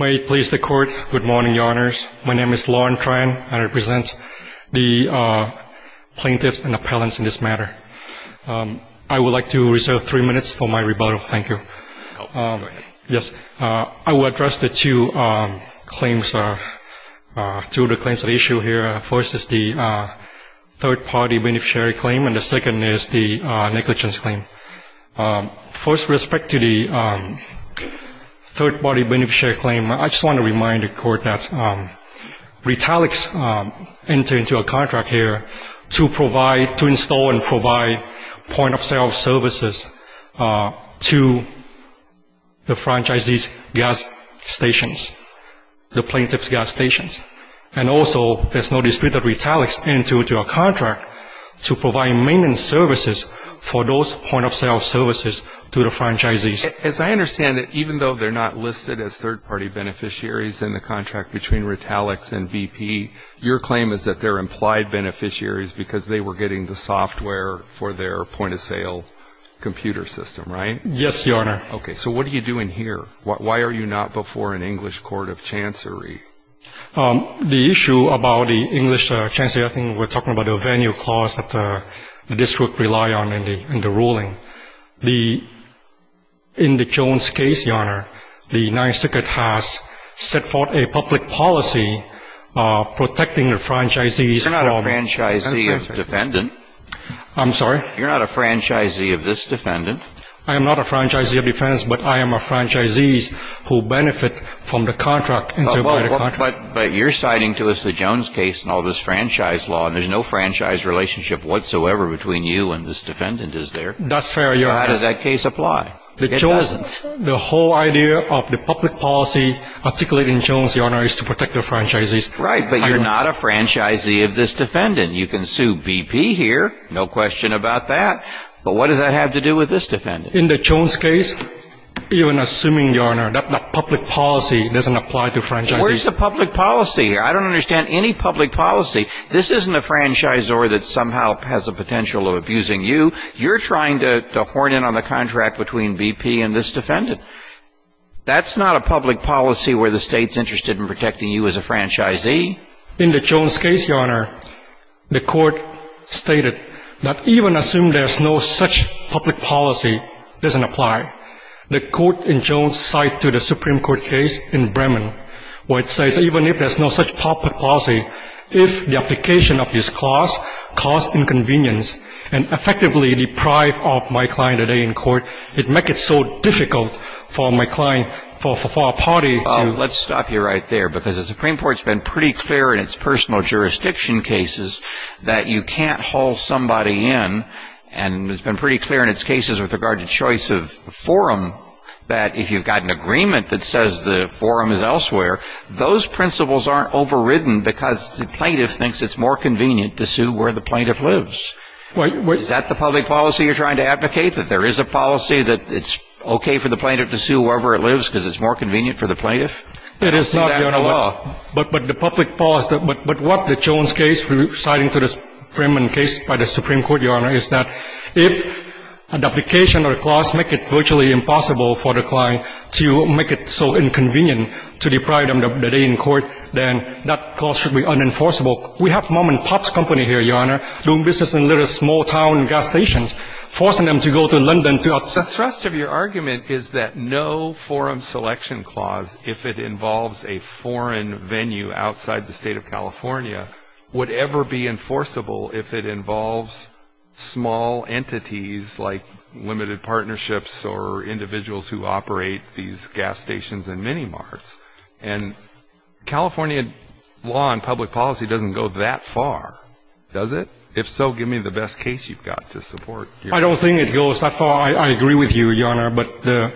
May it please the Court, good morning, Your Honors. My name is Lorne Tran, and I represent the plaintiffs and appellants in this matter. I would like to reserve three minutes for my rebuttal. Thank you. I will address the two claims, two of the claims at issue here. First is the third-party beneficiary claim, and the second is the negligence claim. First, with respect to the third-party beneficiary claim, I just want to remind the Court that Retailics entered into a contract here to install and provide point-of-sale services to the franchisee's gas stations, the plaintiff's gas stations. And also, there's no dispute that Retailics entered into a contract to provide maintenance services for those point-of-sale services to the franchisees. As I understand it, even though they're not listed as third-party beneficiaries in the contract between Retailics and BP, your claim is that they're implied beneficiaries because they were getting the software for their point-of-sale computer system, right? Yes, Your Honor. Okay. So what are you doing here? Why are you not before an English Court of Chancery? The issue about the English Chancery, I think we're talking about a venue clause that the district relied on in the ruling. The — in the Jones case, Your Honor, the Ninth Circuit has set forth a public policy protecting the franchisees from — You're not a franchisee of defendant. I'm sorry? You're not a franchisee of this defendant. I am not a franchisee of defendant, but I am a franchisee who benefits from the contract. But you're citing to us the Jones case and all this franchise law, and there's no franchise relationship whatsoever between you and this defendant, is there? That's fair, Your Honor. How does that case apply? It doesn't. The whole idea of the public policy articulating Jones, Your Honor, is to protect the franchisees. Right, but you're not a franchisee of this defendant. You can sue BP here, no question about that. But what does that have to do with this defendant? In the Jones case, even assuming, Your Honor, that the public policy doesn't apply to franchisees. Where's the public policy? I don't understand any public policy. This isn't a franchisor that somehow has a potential of abusing you. You're trying to horn in on the contract between BP and this defendant. That's not a public policy where the State's interested in protecting you as a franchisee. In the Jones case, Your Honor, the Court stated that even assuming there's no such public policy doesn't apply. The Court in Jones cite to the Supreme Court case in Bremen where it says even if there's no such public policy, if the application of this clause caused inconvenience and effectively deprived of my client a day in court, it'd make it so difficult for my client, for our party to. Well, let's stop you right there. Because the Supreme Court's been pretty clear in its personal jurisdiction cases that you can't haul somebody in. And it's been pretty clear in its cases with regard to choice of forum that if you've got an agreement that says the forum is elsewhere, those principles aren't overridden because the plaintiff thinks it's more convenient to sue where the plaintiff lives. Is that the public policy you're trying to advocate? That there is a policy that it's okay for the plaintiff to sue wherever it lives because it's more convenient for the plaintiff? It is not, Your Honor, but the public policy. But what the Jones case, citing to this Bremen case by the Supreme Court, Your Honor, is that if an application or a clause makes it virtually impossible for the client to make it so inconvenient to deprive them of a day in court, then that clause should be unenforceable. We have mom-and-pop's company here, Your Honor, doing business in little small-town gas stations, forcing them to go to London. The thrust of your argument is that no forum selection clause, if it involves a foreign venue outside the state of California, would ever be enforceable if it involves small entities like limited partnerships or individuals who operate these gas stations and mini-marts. And California law and public policy doesn't go that far, does it? If so, give me the best case you've got to support your argument. I don't think it goes that far. I agree with you, Your Honor. But the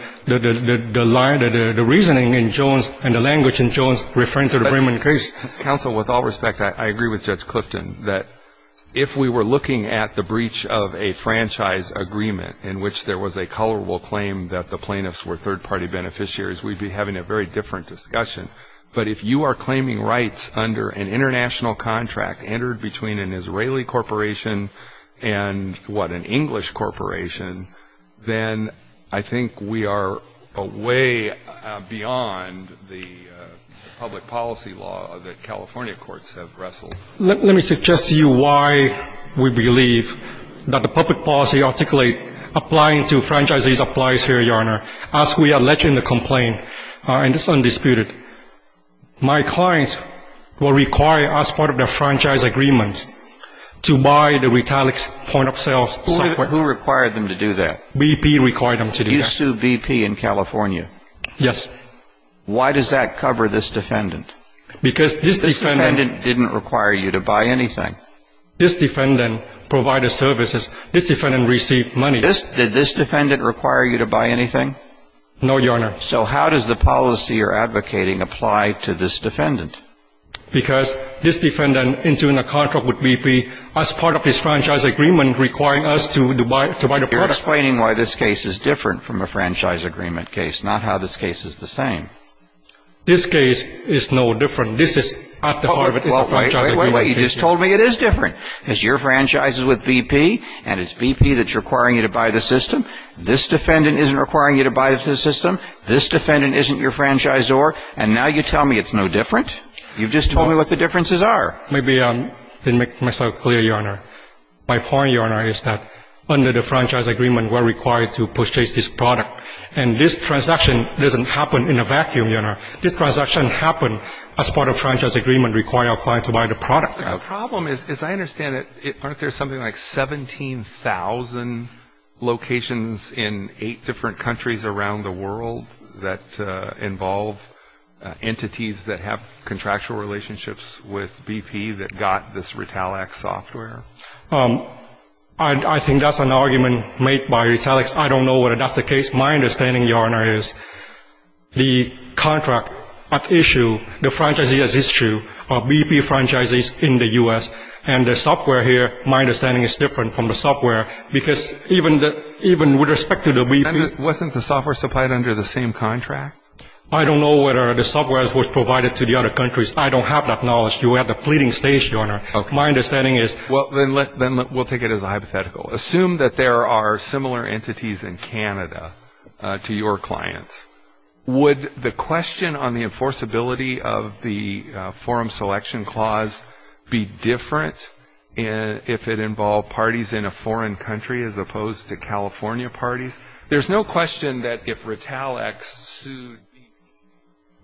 line, the reasoning in Jones and the language in Jones referring to the Bremen case. Counsel, with all respect, I agree with Judge Clifton that if we were looking at the breach of a franchise agreement in which there was a culpable claim that the plaintiffs were third-party beneficiaries, we'd be having a very different discussion. But if you are claiming rights under an international contract entered between an Israeli corporation and, what, an English corporation, then I think we are a way beyond the public policy law that California courts have wrestled. Let me suggest to you why we believe that the public policy articulate applying to franchisees applies here, Your Honor. As we allege in the complaint, and it's undisputed, my clients were required as part of their franchise agreement to buy the retaliate point-of-sales software. Who required them to do that? BP required them to do that. You sued BP in California? Yes. Why does that cover this defendant? Because this defendant didn't require you to buy anything. This defendant provided services. This defendant received money. Did this defendant require you to buy anything? No, Your Honor. So how does the policy you're advocating apply to this defendant? Because this defendant entering a contract with BP as part of his franchise agreement requiring us to buy the product. You're explaining why this case is different from a franchise agreement case, not how this case is the same. This case is no different. This is at the heart of a franchise agreement case. Wait, wait, wait. You just told me it is different. Because your franchise is with BP, and it's BP that's requiring you to buy the system. This defendant isn't requiring you to buy the system. This defendant isn't your franchisor. And now you tell me it's no different? You've just told me what the differences are. Maybe I didn't make myself clear, Your Honor. My point, Your Honor, is that under the franchise agreement, we're required to purchase this product. And this transaction doesn't happen in a vacuum, Your Honor. This transaction happens as part of the franchise agreement requiring our client to buy the product. But the problem is, as I understand it, aren't there something like 17,000 locations in eight different countries around the world that involve entities that have contractual relationships with BP that got this Retallax software? I think that's an argument made by Retallax. I don't know whether that's the case. My understanding, Your Honor, is the contract at issue, the franchisee at issue, are BP franchisees in the U.S. And the software here, my understanding, is different from the software. Because even with respect to the BP ---- Wasn't the software supplied under the same contract? I don't know whether the software was provided to the other countries. I don't have that knowledge. You have the pleading states, Your Honor. My understanding is ---- Well, then we'll take it as a hypothetical. Assume that there are similar entities in Canada to your clients. Would the question on the enforceability of the Forum Selection Clause be different if it involved parties in a foreign country as opposed to California parties? There's no question that if Retallax sued BP,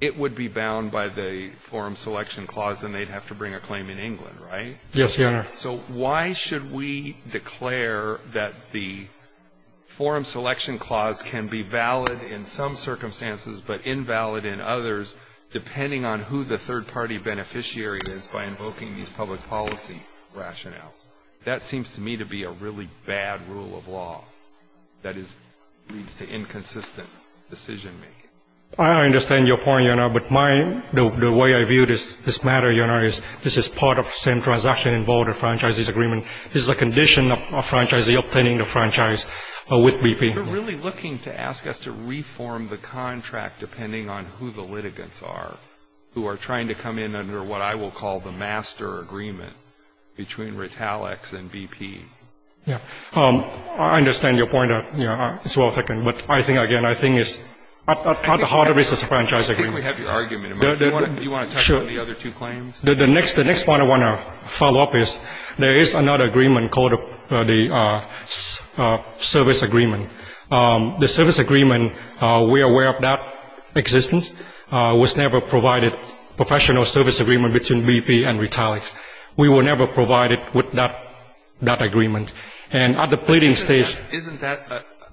it would be bound by the Forum Selection Clause, and they'd have to bring a claim in England, right? Yes, Your Honor. So why should we declare that the Forum Selection Clause can be valid in some circumstances but invalid in others depending on who the third-party beneficiary is by invoking these public policy rationales? That seems to me to be a really bad rule of law that leads to inconsistent decision-making. But my ---- the way I view this matter, Your Honor, is this is part of the same transaction involved in a franchisee's agreement. This is a condition of a franchisee obtaining the franchise with BP. You're really looking to ask us to reform the contract depending on who the litigants are who are trying to come in under what I will call the master agreement between Retallax and BP. Yes. I understand your point, Your Honor. It's well taken. But I think, again, I think it's at the heart of this is a franchise agreement. Why don't we have your argument? Do you want to touch on the other two claims? The next point I want to follow up is there is another agreement called the service agreement. The service agreement, we are aware of that existence. It was never provided, professional service agreement, between BP and Retallax. We were never provided with that agreement. And at the pleading stage ---- Isn't that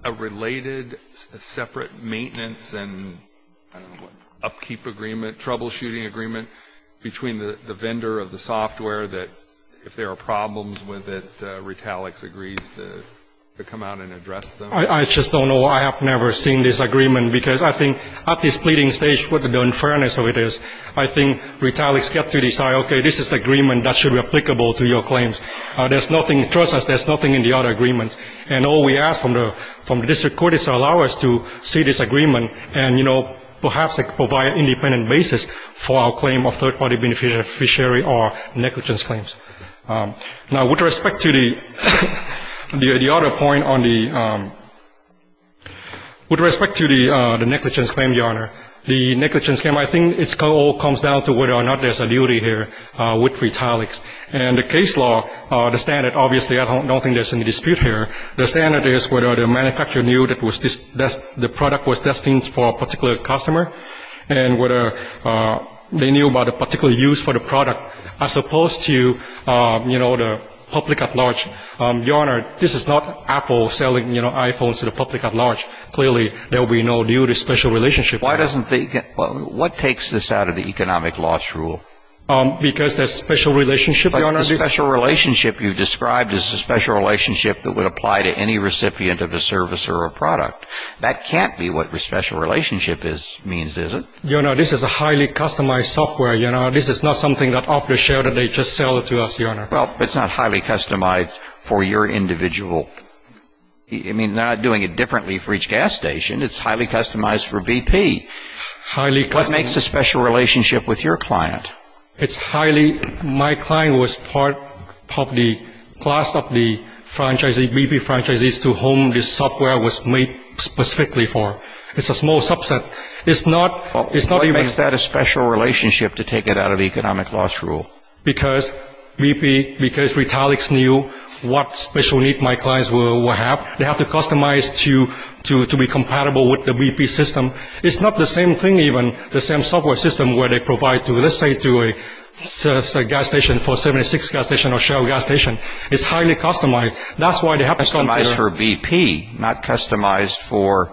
a related separate maintenance and upkeep agreement, troubleshooting agreement, between the vendor of the software that if there are problems with it, Retallax agrees to come out and address them? I just don't know. I have never seen this agreement because I think at this pleading stage, what the unfairness of it is, I think Retallax gets to decide, okay, this is the agreement that should be applicable to your claims. There's nothing, trust us, there's nothing in the other agreements. And all we ask from the district court is to allow us to see this agreement and, you know, perhaps provide an independent basis for our claim of third-party beneficiary or negligence claims. Now, with respect to the other point on the ---- with respect to the negligence claim, Your Honor, the negligence claim, I think it all comes down to whether or not there's a duty here with Retallax. And the case law, the standard, obviously, I don't think there's any dispute here. The standard is whether the manufacturer knew that the product was destined for a particular customer and whether they knew about a particular use for the product as opposed to, you know, the public at large. Your Honor, this is not Apple selling, you know, iPhones to the public at large. Clearly, there will be no duty, special relationship. Why doesn't the ---- what takes this out of the economic loss rule? Because there's special relationship, Your Honor. But the special relationship you've described is the special relationship that would apply to any recipient of a service or a product. That can't be what the special relationship means, is it? Your Honor, this is a highly customized software, Your Honor. This is not something that off the shelf that they just sell to us, Your Honor. Well, it's not highly customized for your individual ---- I mean, they're not doing it differently for each gas station. It's highly customized for BP. Highly customized. What makes a special relationship with your client? It's highly ---- my client was part of the class of the franchisees, BP franchisees, to whom this software was made specifically for. It's a small subset. It's not even ---- Well, what makes that a special relationship to take it out of the economic loss rule? Because BP, because Retalix knew what special need my clients will have, they have to customize to be compatible with the BP system. It's not the same thing even, the same software system where they provide to, let's say to a gas station, 476 gas station or Shell gas station. It's highly customized. That's why they have to ---- Customized for BP, not customized for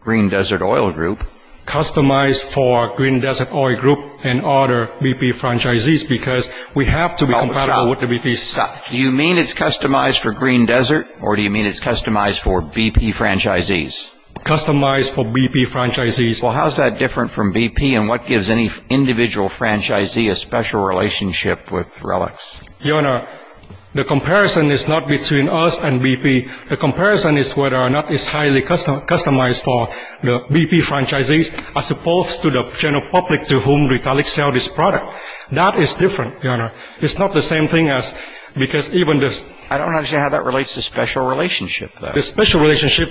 Green Desert Oil Group. Customized for Green Desert Oil Group and other BP franchisees because we have to be compatible with the BP system. Do you mean it's customized for Green Desert or do you mean it's customized for BP franchisees? Well, how is that different from BP and what gives any individual franchisee a special relationship with Relix? Your Honor, the comparison is not between us and BP. The comparison is whether or not it's highly customized for the BP franchisees as opposed to the general public to whom Retalix sells this product. That is different, Your Honor. It's not the same thing as because even the ---- I don't understand how that relates to special relationship, though. The special relationship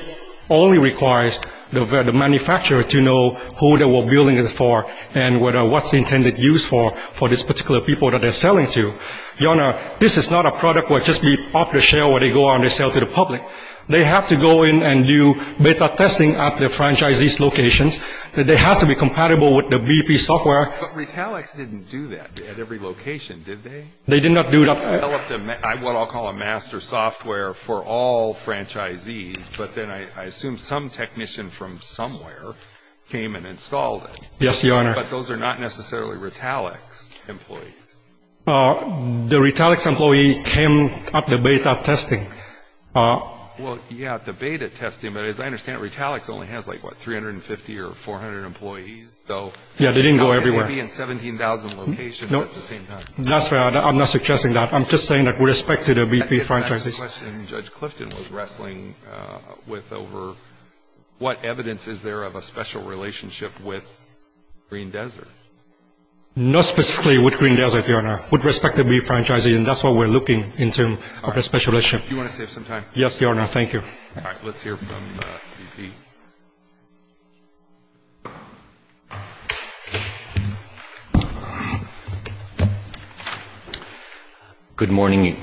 only requires the manufacturer to know who they were building it for and what's the intended use for for this particular people that they're selling to. Your Honor, this is not a product where it just be off the shelf where they go out and they sell to the public. They have to go in and do beta testing at the franchisees' locations. They have to be compatible with the BP software. But Retalix didn't do that at every location, did they? They did not do that. They developed what I'll call a master software for all franchisees, but then I assume some technician from somewhere came and installed it. Yes, Your Honor. But those are not necessarily Retalix employees. The Retalix employee came at the beta testing. Well, yeah, at the beta testing. But as I understand it, Retalix only has, like, what, 350 or 400 employees, though? Yeah, they didn't go everywhere. No, maybe in 17,000 locations at the same time. That's fair. I'm not suggesting that. I'm just saying that with respect to the BP franchises. I think that's the question Judge Clifton was wrestling with over what evidence is there of a special relationship with Green Desert. Not specifically with Green Desert, Your Honor. With respect to BP franchises, and that's what we're looking in terms of a special relationship. All right. Do you want to save some time? Yes, Your Honor. Thank you. All right. Let's hear from BP. Good morning.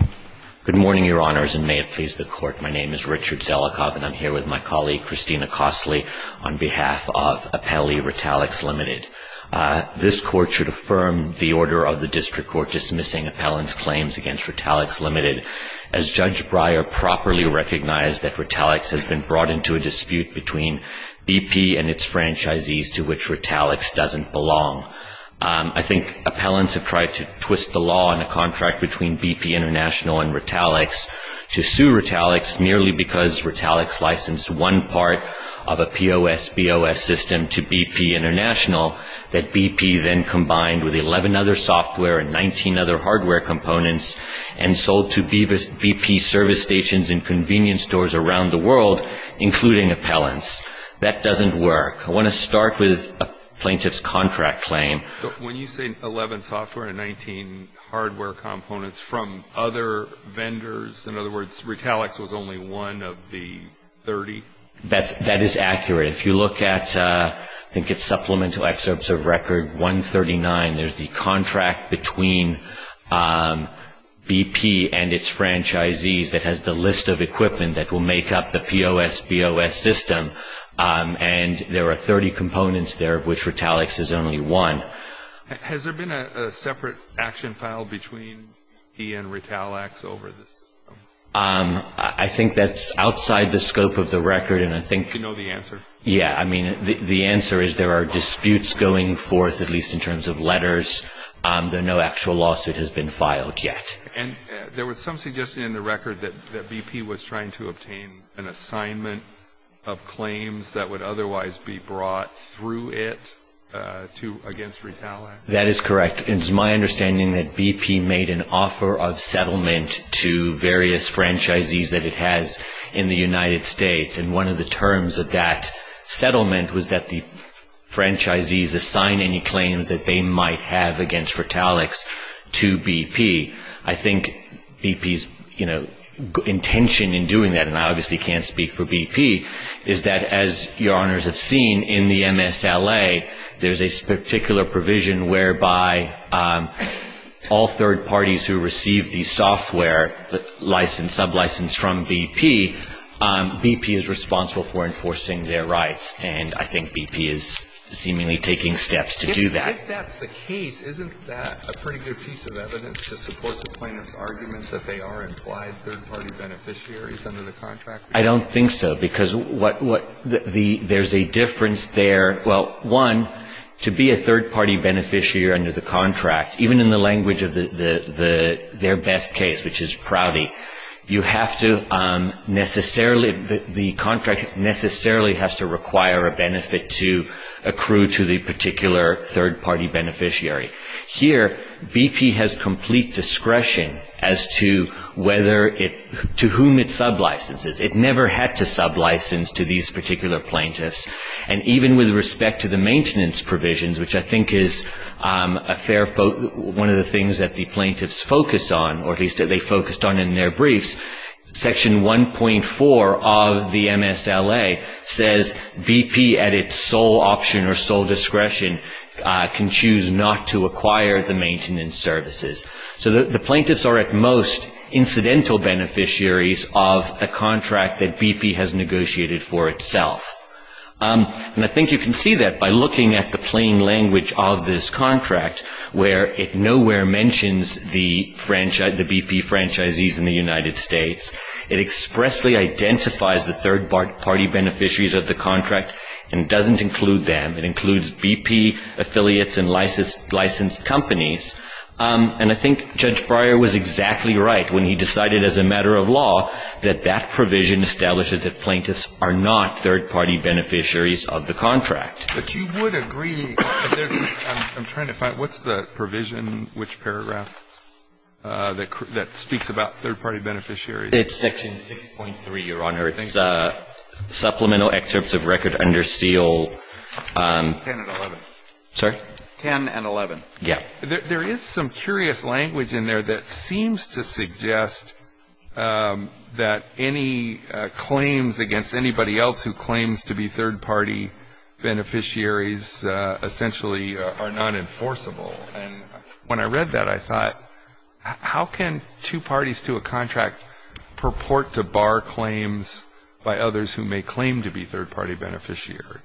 Good morning, Your Honors, and may it please the Court. My name is Richard Zelikov, and I'm here with my colleague, Christina Costley, on behalf of Appellee Retalix Ltd. This Court should affirm the order of the district court dismissing Appellant's claims against Retalix Ltd. as Judge Breyer properly recognized that Retalix has been brought into a dispute between BP and its franchisees to which Retalix doesn't belong. I think appellants have tried to twist the law on the contract between BP International and Retalix to sue Retalix merely because Retalix licensed one part of a POS BOS system to BP International that BP then combined with 11 other software and 19 other hardware components and sold to BP service stations and convenience stores around the world, including appellants. That doesn't work. I want to start with a plaintiff's contract claim. When you say 11 software and 19 hardware components from other vendors, in other words, Retalix was only one of the 30? That is accurate. If you look at, I think it's Supplemental Excerpts of Record 139, there's the contract between BP and its franchisees that has the list of equipment that will make up the POS BOS system, and there are 30 components there of which Retalix is only one. Has there been a separate action filed between he and Retalix over this? I think that's outside the scope of the record, and I think You can know the answer? Yeah. I mean, the answer is there are disputes going forth, at least in terms of letters. No actual lawsuit has been filed yet. And there was some suggestion in the record that BP was trying to obtain an assignment of claims that would otherwise be brought through it against Retalix? That is correct. It is my understanding that BP made an offer of settlement to various franchisees that it has in the United States, and one of the terms of that settlement was that the franchisees assign any claims that they might have against Retalix to BP. I think BP's, you know, intention in doing that, and I obviously can't speak for BP, is that, as Your Honors have seen, in the MSLA, there's a particular provision whereby all third parties who receive the software license, sublicense from BP, BP is responsible for enforcing their rights. And I think BP is seemingly taking steps to do that. If that's the case, isn't that a pretty good piece of evidence to support the plaintiff's argument that they are implied third-party beneficiaries under the contract? I don't think so, because there's a difference there. Well, one, to be a third-party beneficiary under the contract, even in the language of their best case, which is Prouty, you have to necessarily, the contract necessarily has to require a benefit to accrue to the particular third-party beneficiary. Here, BP has complete discretion as to whether it, to whom it sublicenses. It never had to sublicense to these particular plaintiffs. And even with respect to the maintenance provisions, which I think is one of the things that the plaintiffs focus on, or at least that they focused on in their briefs, Section 1.4 of the MSLA says BP, at its sole option or sole discretion, can choose not to acquire the maintenance services. So the plaintiffs are at most incidental beneficiaries of a contract that BP has negotiated for itself. And I think you can see that by looking at the plain language of this contract, where it nowhere mentions the BP franchisees in the United States. It expressly identifies the third-party beneficiaries of the contract and doesn't include them. It includes BP affiliates and licensed companies. And I think Judge Breyer was exactly right when he decided as a matter of law that that provision established that the plaintiffs are not third-party beneficiaries of the contract. But you would agree, I'm trying to find, what's the provision, which paragraph, that speaks about third-party beneficiaries? It's Section 6.3, Your Honor. It's supplemental excerpts of record under seal. 10 and 11. Sorry? 10 and 11. Yeah. There is some curious language in there that seems to suggest that any claims against anybody else who claims to be third-party beneficiaries essentially are nonenforceable. And when I read that, I thought, how can two parties to a contract purport to bar claims by others who may claim to be third-party beneficiaries?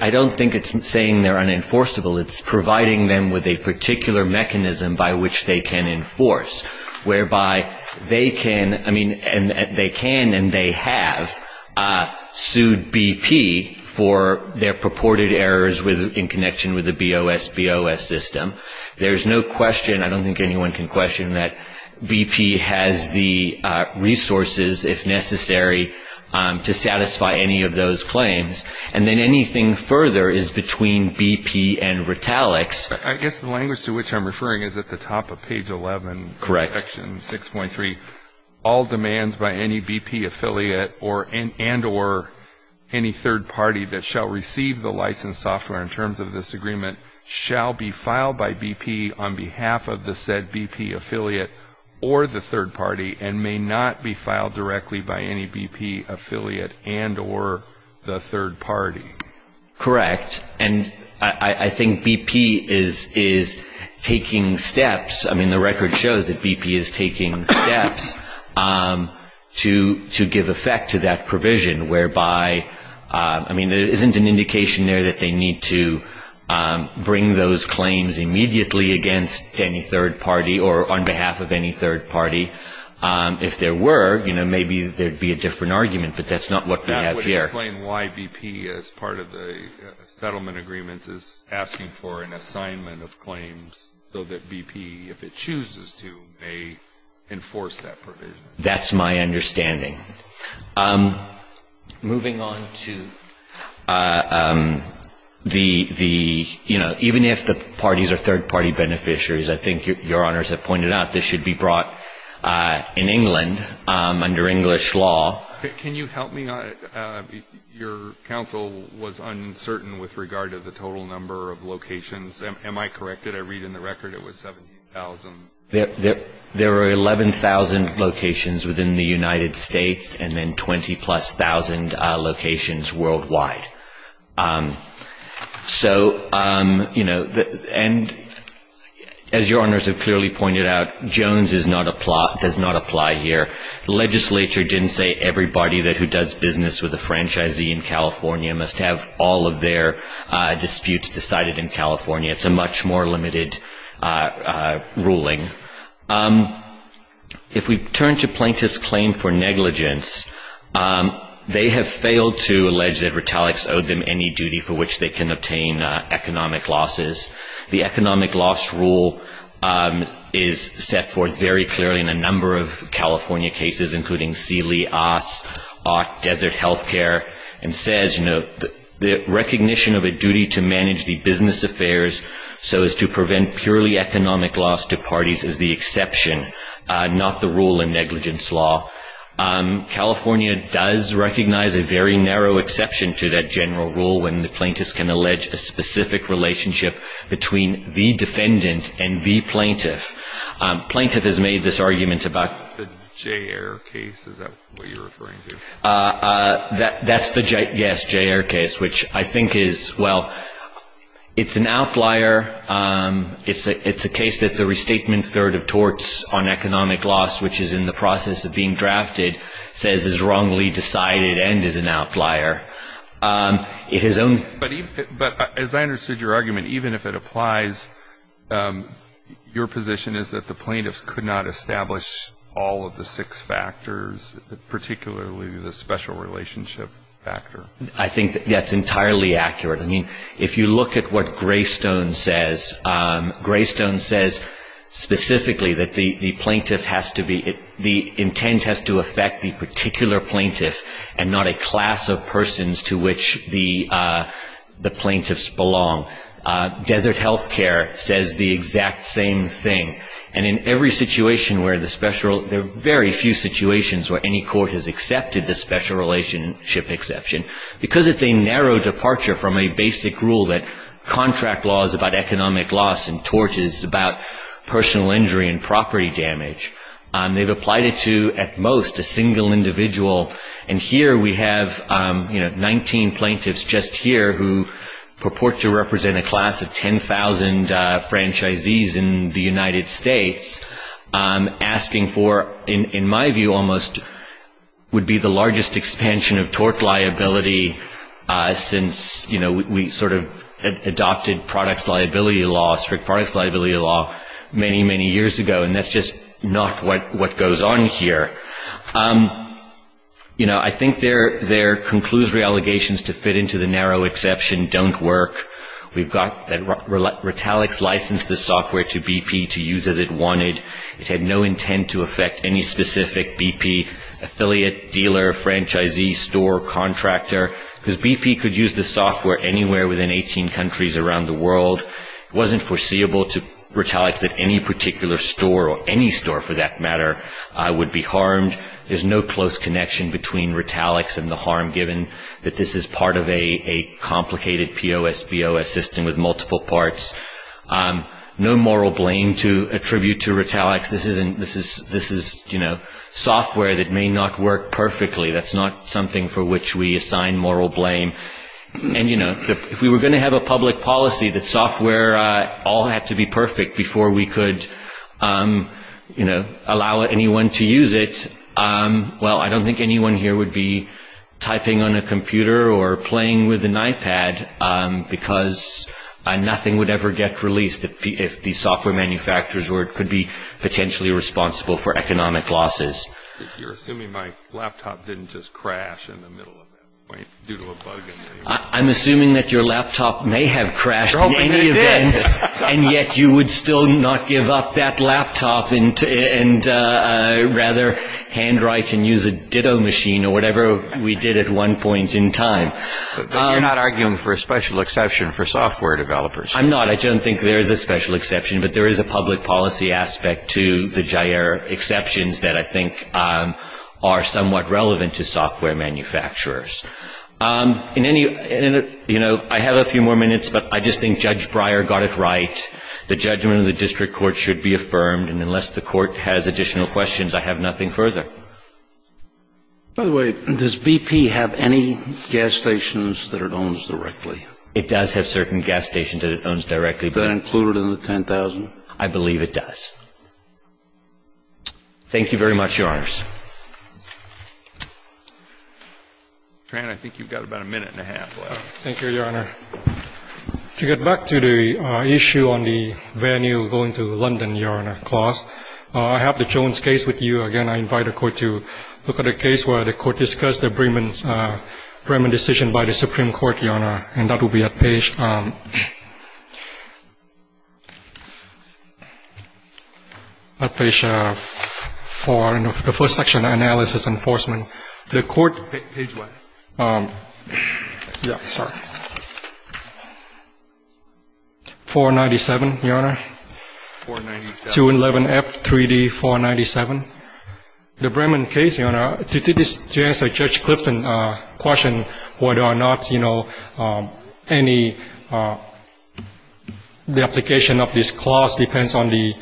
I don't think it's saying they're unenforceable. It's providing them with a particular mechanism by which they can enforce, whereby they can and they have sued BP for their purported errors in connection with the BOSBOS system. There's no question, I don't think anyone can question that BP has the resources, if necessary, to satisfy any of those claims. And then anything further is between BP and Retalix. I guess the language to which I'm referring is at the top of page 11. Correct. Section 6.3. All demands by any BP affiliate and or any third party that shall receive the licensed software in terms of this agreement shall be filed by BP on behalf of the said BP affiliate or the third party and may not be filed directly by any BP affiliate and or the third party. Correct. And I think BP is taking steps. I mean, the record shows that BP is taking steps to give effect to that provision, whereby, I mean, there isn't an indication there that they need to bring those claims immediately against any third party or on behalf of any third party. If there were, you know, maybe there would be a different argument, but that's not what we have here. That would explain why BP, as part of the settlement agreement, is asking for an assignment of claims so that BP, if it chooses to, may enforce that provision. That's my understanding. Moving on to the, you know, even if the parties are third party beneficiaries, I think Your Honors have pointed out this should be brought in England under English law. Can you help me? Your counsel was uncertain with regard to the total number of locations. Am I corrected? I read in the record it was 17,000. There are 11,000 locations within the United States and then 20-plus thousand locations worldwide. So, you know, and as Your Honors have clearly pointed out, Jones does not apply here. The legislature didn't say everybody who does business with a franchisee in California must have all of their disputes decided in California. It's a much more limited ruling. If we turn to plaintiffs' claim for negligence, they have failed to allege that Retalix owed them any duty for which they can obtain economic losses. The economic loss rule is set forth very clearly in a number of California cases, including Seeley, Oss, Ott, Desert Healthcare, and says, you know, the recognition of a duty to manage the business affairs so as to prevent purely economic loss to parties is the exception, not the rule in negligence law. California does recognize a very narrow exception to that general rule when the plaintiffs can allege a specific relationship between the defendant and the plaintiff. Plaintiff has made this argument about the J.R. case. Is that what you're referring to? That's the J.R. case, which I think is, well, it's an outlier. It's a case that the restatement third of torts on economic loss, which is in the process of being drafted, says is wrongly decided and is an outlier. But as I understood your argument, even if it applies, your position is that the plaintiffs could not establish all of the six factors, particularly the special relationship factor. I think that's entirely accurate. I mean, if you look at what Greystone says, Greystone says specifically that the plaintiff has to be, the intent has to affect the particular plaintiff and not a class of persons to which the plaintiffs belong. Desert Healthcare says the exact same thing. And in every situation where the special, there are very few situations where any court has accepted the special relationship exception. Because it's a narrow departure from a basic rule that contract law is about economic loss and tort is about personal injury and property damage, they've applied it to at most a single individual. And here we have 19 plaintiffs just here who purport to represent a class of 10,000 franchisees in the United States, asking for, in my view almost, would be the largest expansion of tort liability since we sort of adopted products liability law, strict products liability law many, many years ago. And that's just not what goes on here. You know, I think their conclusory allegations to fit into the narrow exception don't work. We've got that Retalix licensed the software to BP to use as it wanted. It had no intent to affect any specific BP affiliate, dealer, franchisee, store, contractor. Because BP could use the software anywhere within 18 countries around the world. It wasn't foreseeable to Retalix that any particular store, or any store for that matter, would be harmed. There's no close connection between Retalix and the harm, given that this is part of a complicated POSBO system with multiple parts. No moral blame to attribute to Retalix. This is, you know, software that may not work perfectly. That's not something for which we assign moral blame. And, you know, if we were going to have a public policy, that software all had to be perfect before we could, you know, allow anyone to use it, well, I don't think anyone here would be typing on a computer or playing with an iPad, because nothing would ever get released if these software manufacturers could be potentially responsible for economic losses. You're assuming my laptop didn't just crash in the middle of it, due to a bug in it? I'm assuming that your laptop may have crashed in any event, and yet you would still not give up that laptop and rather handwrite and use a ditto machine, or whatever we did at one point in time. You're not arguing for a special exception for software developers? I'm not. I don't think there is a special exception, but there is a public policy aspect to the Jair exceptions that I think are somewhat relevant to software manufacturers. In any, you know, I have a few more minutes, but I just think Judge Breyer got it right. The judgment of the district court should be affirmed, and unless the court has additional questions, I have nothing further. By the way, does BP have any gas stations that it owns directly? It does have certain gas stations that it owns directly. Is that included in the $10,000? I believe it does. Thank you very much, Your Honors. Fran, I think you've got about a minute and a half left. Thank you, Your Honor. To get back to the issue on the venue going to London, Your Honor, I have the Jones case with you. Again, I invite the Court to look at the case where the Court discussed the Brehman decision by the Supreme Court, Your Honor, and that will be at page 4 in the first section, Analysis and Enforcement. Page what? Yeah, sorry. 497, Your Honor. 497. 211F3D497. The Brehman case, Your Honor, to answer Judge Clifton's question whether or not, you know, any, the application of this clause depends on the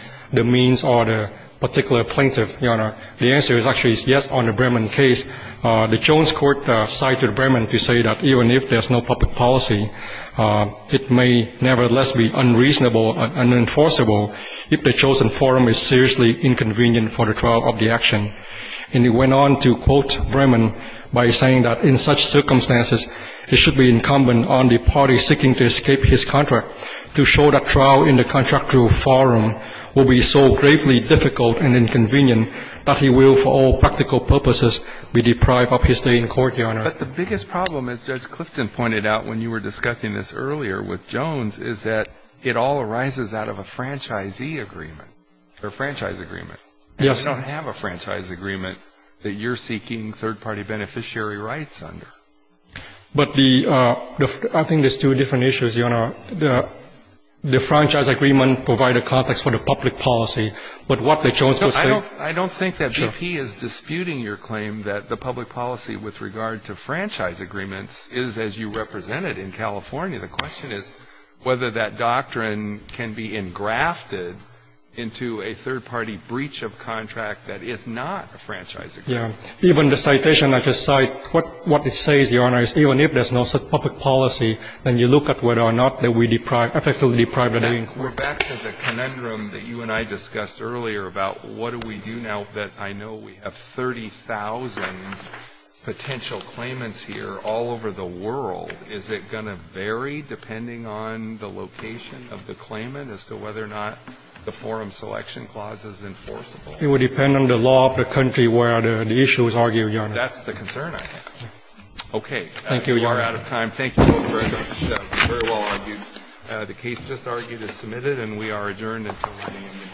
means or the particular plaintiff, Your Honor. The answer is actually yes on the Brehman case. The Jones court cited Brehman to say that even if there's no public policy, it may nevertheless be unreasonable and unenforceable if the chosen forum is seriously inconvenient for the trial of the action. And he went on to quote Brehman by saying that in such circumstances, it should be incumbent on the party seeking to escape his contract to show that trial in the contractual forum will be so gravely difficult and inconvenient that he will, for all practical purposes, be deprived of his stay in court, Your Honor. But the biggest problem, as Judge Clifton pointed out when you were discussing this earlier with Jones, is that it all arises out of a franchisee agreement or franchise agreement. Yes. You don't have a franchise agreement that you're seeking third-party beneficiary rights under. But the, I think there's two different issues, Your Honor. The franchise agreement provide a context for the public policy, but what the Jones was saying. I don't think that BP is disputing your claim that the public policy with regard to franchise agreements is as you represent it in California. The question is whether that doctrine can be engrafted into a third-party breach of contract that is not a franchise agreement. Yes. Even the citation I just cited, what it says, Your Honor, is even if there's no such public policy, then you look at whether or not that we deprive, effectively deprive the day in court. We're back to the conundrum that you and I discussed earlier about what do we do now that I know we have 30,000 potential claimants here all over the world. Is it going to vary depending on the location of the claimant as to whether or not the Forum Selection Clause is enforceable? It would depend on the law of the country where the issue is argued, Your Honor. That's the concern, I think. Okay. Thank you, Your Honor. We are out of time. Thank you both very much. Very well argued. The case just argued is submitted, and we are adjourned until 9 a.m.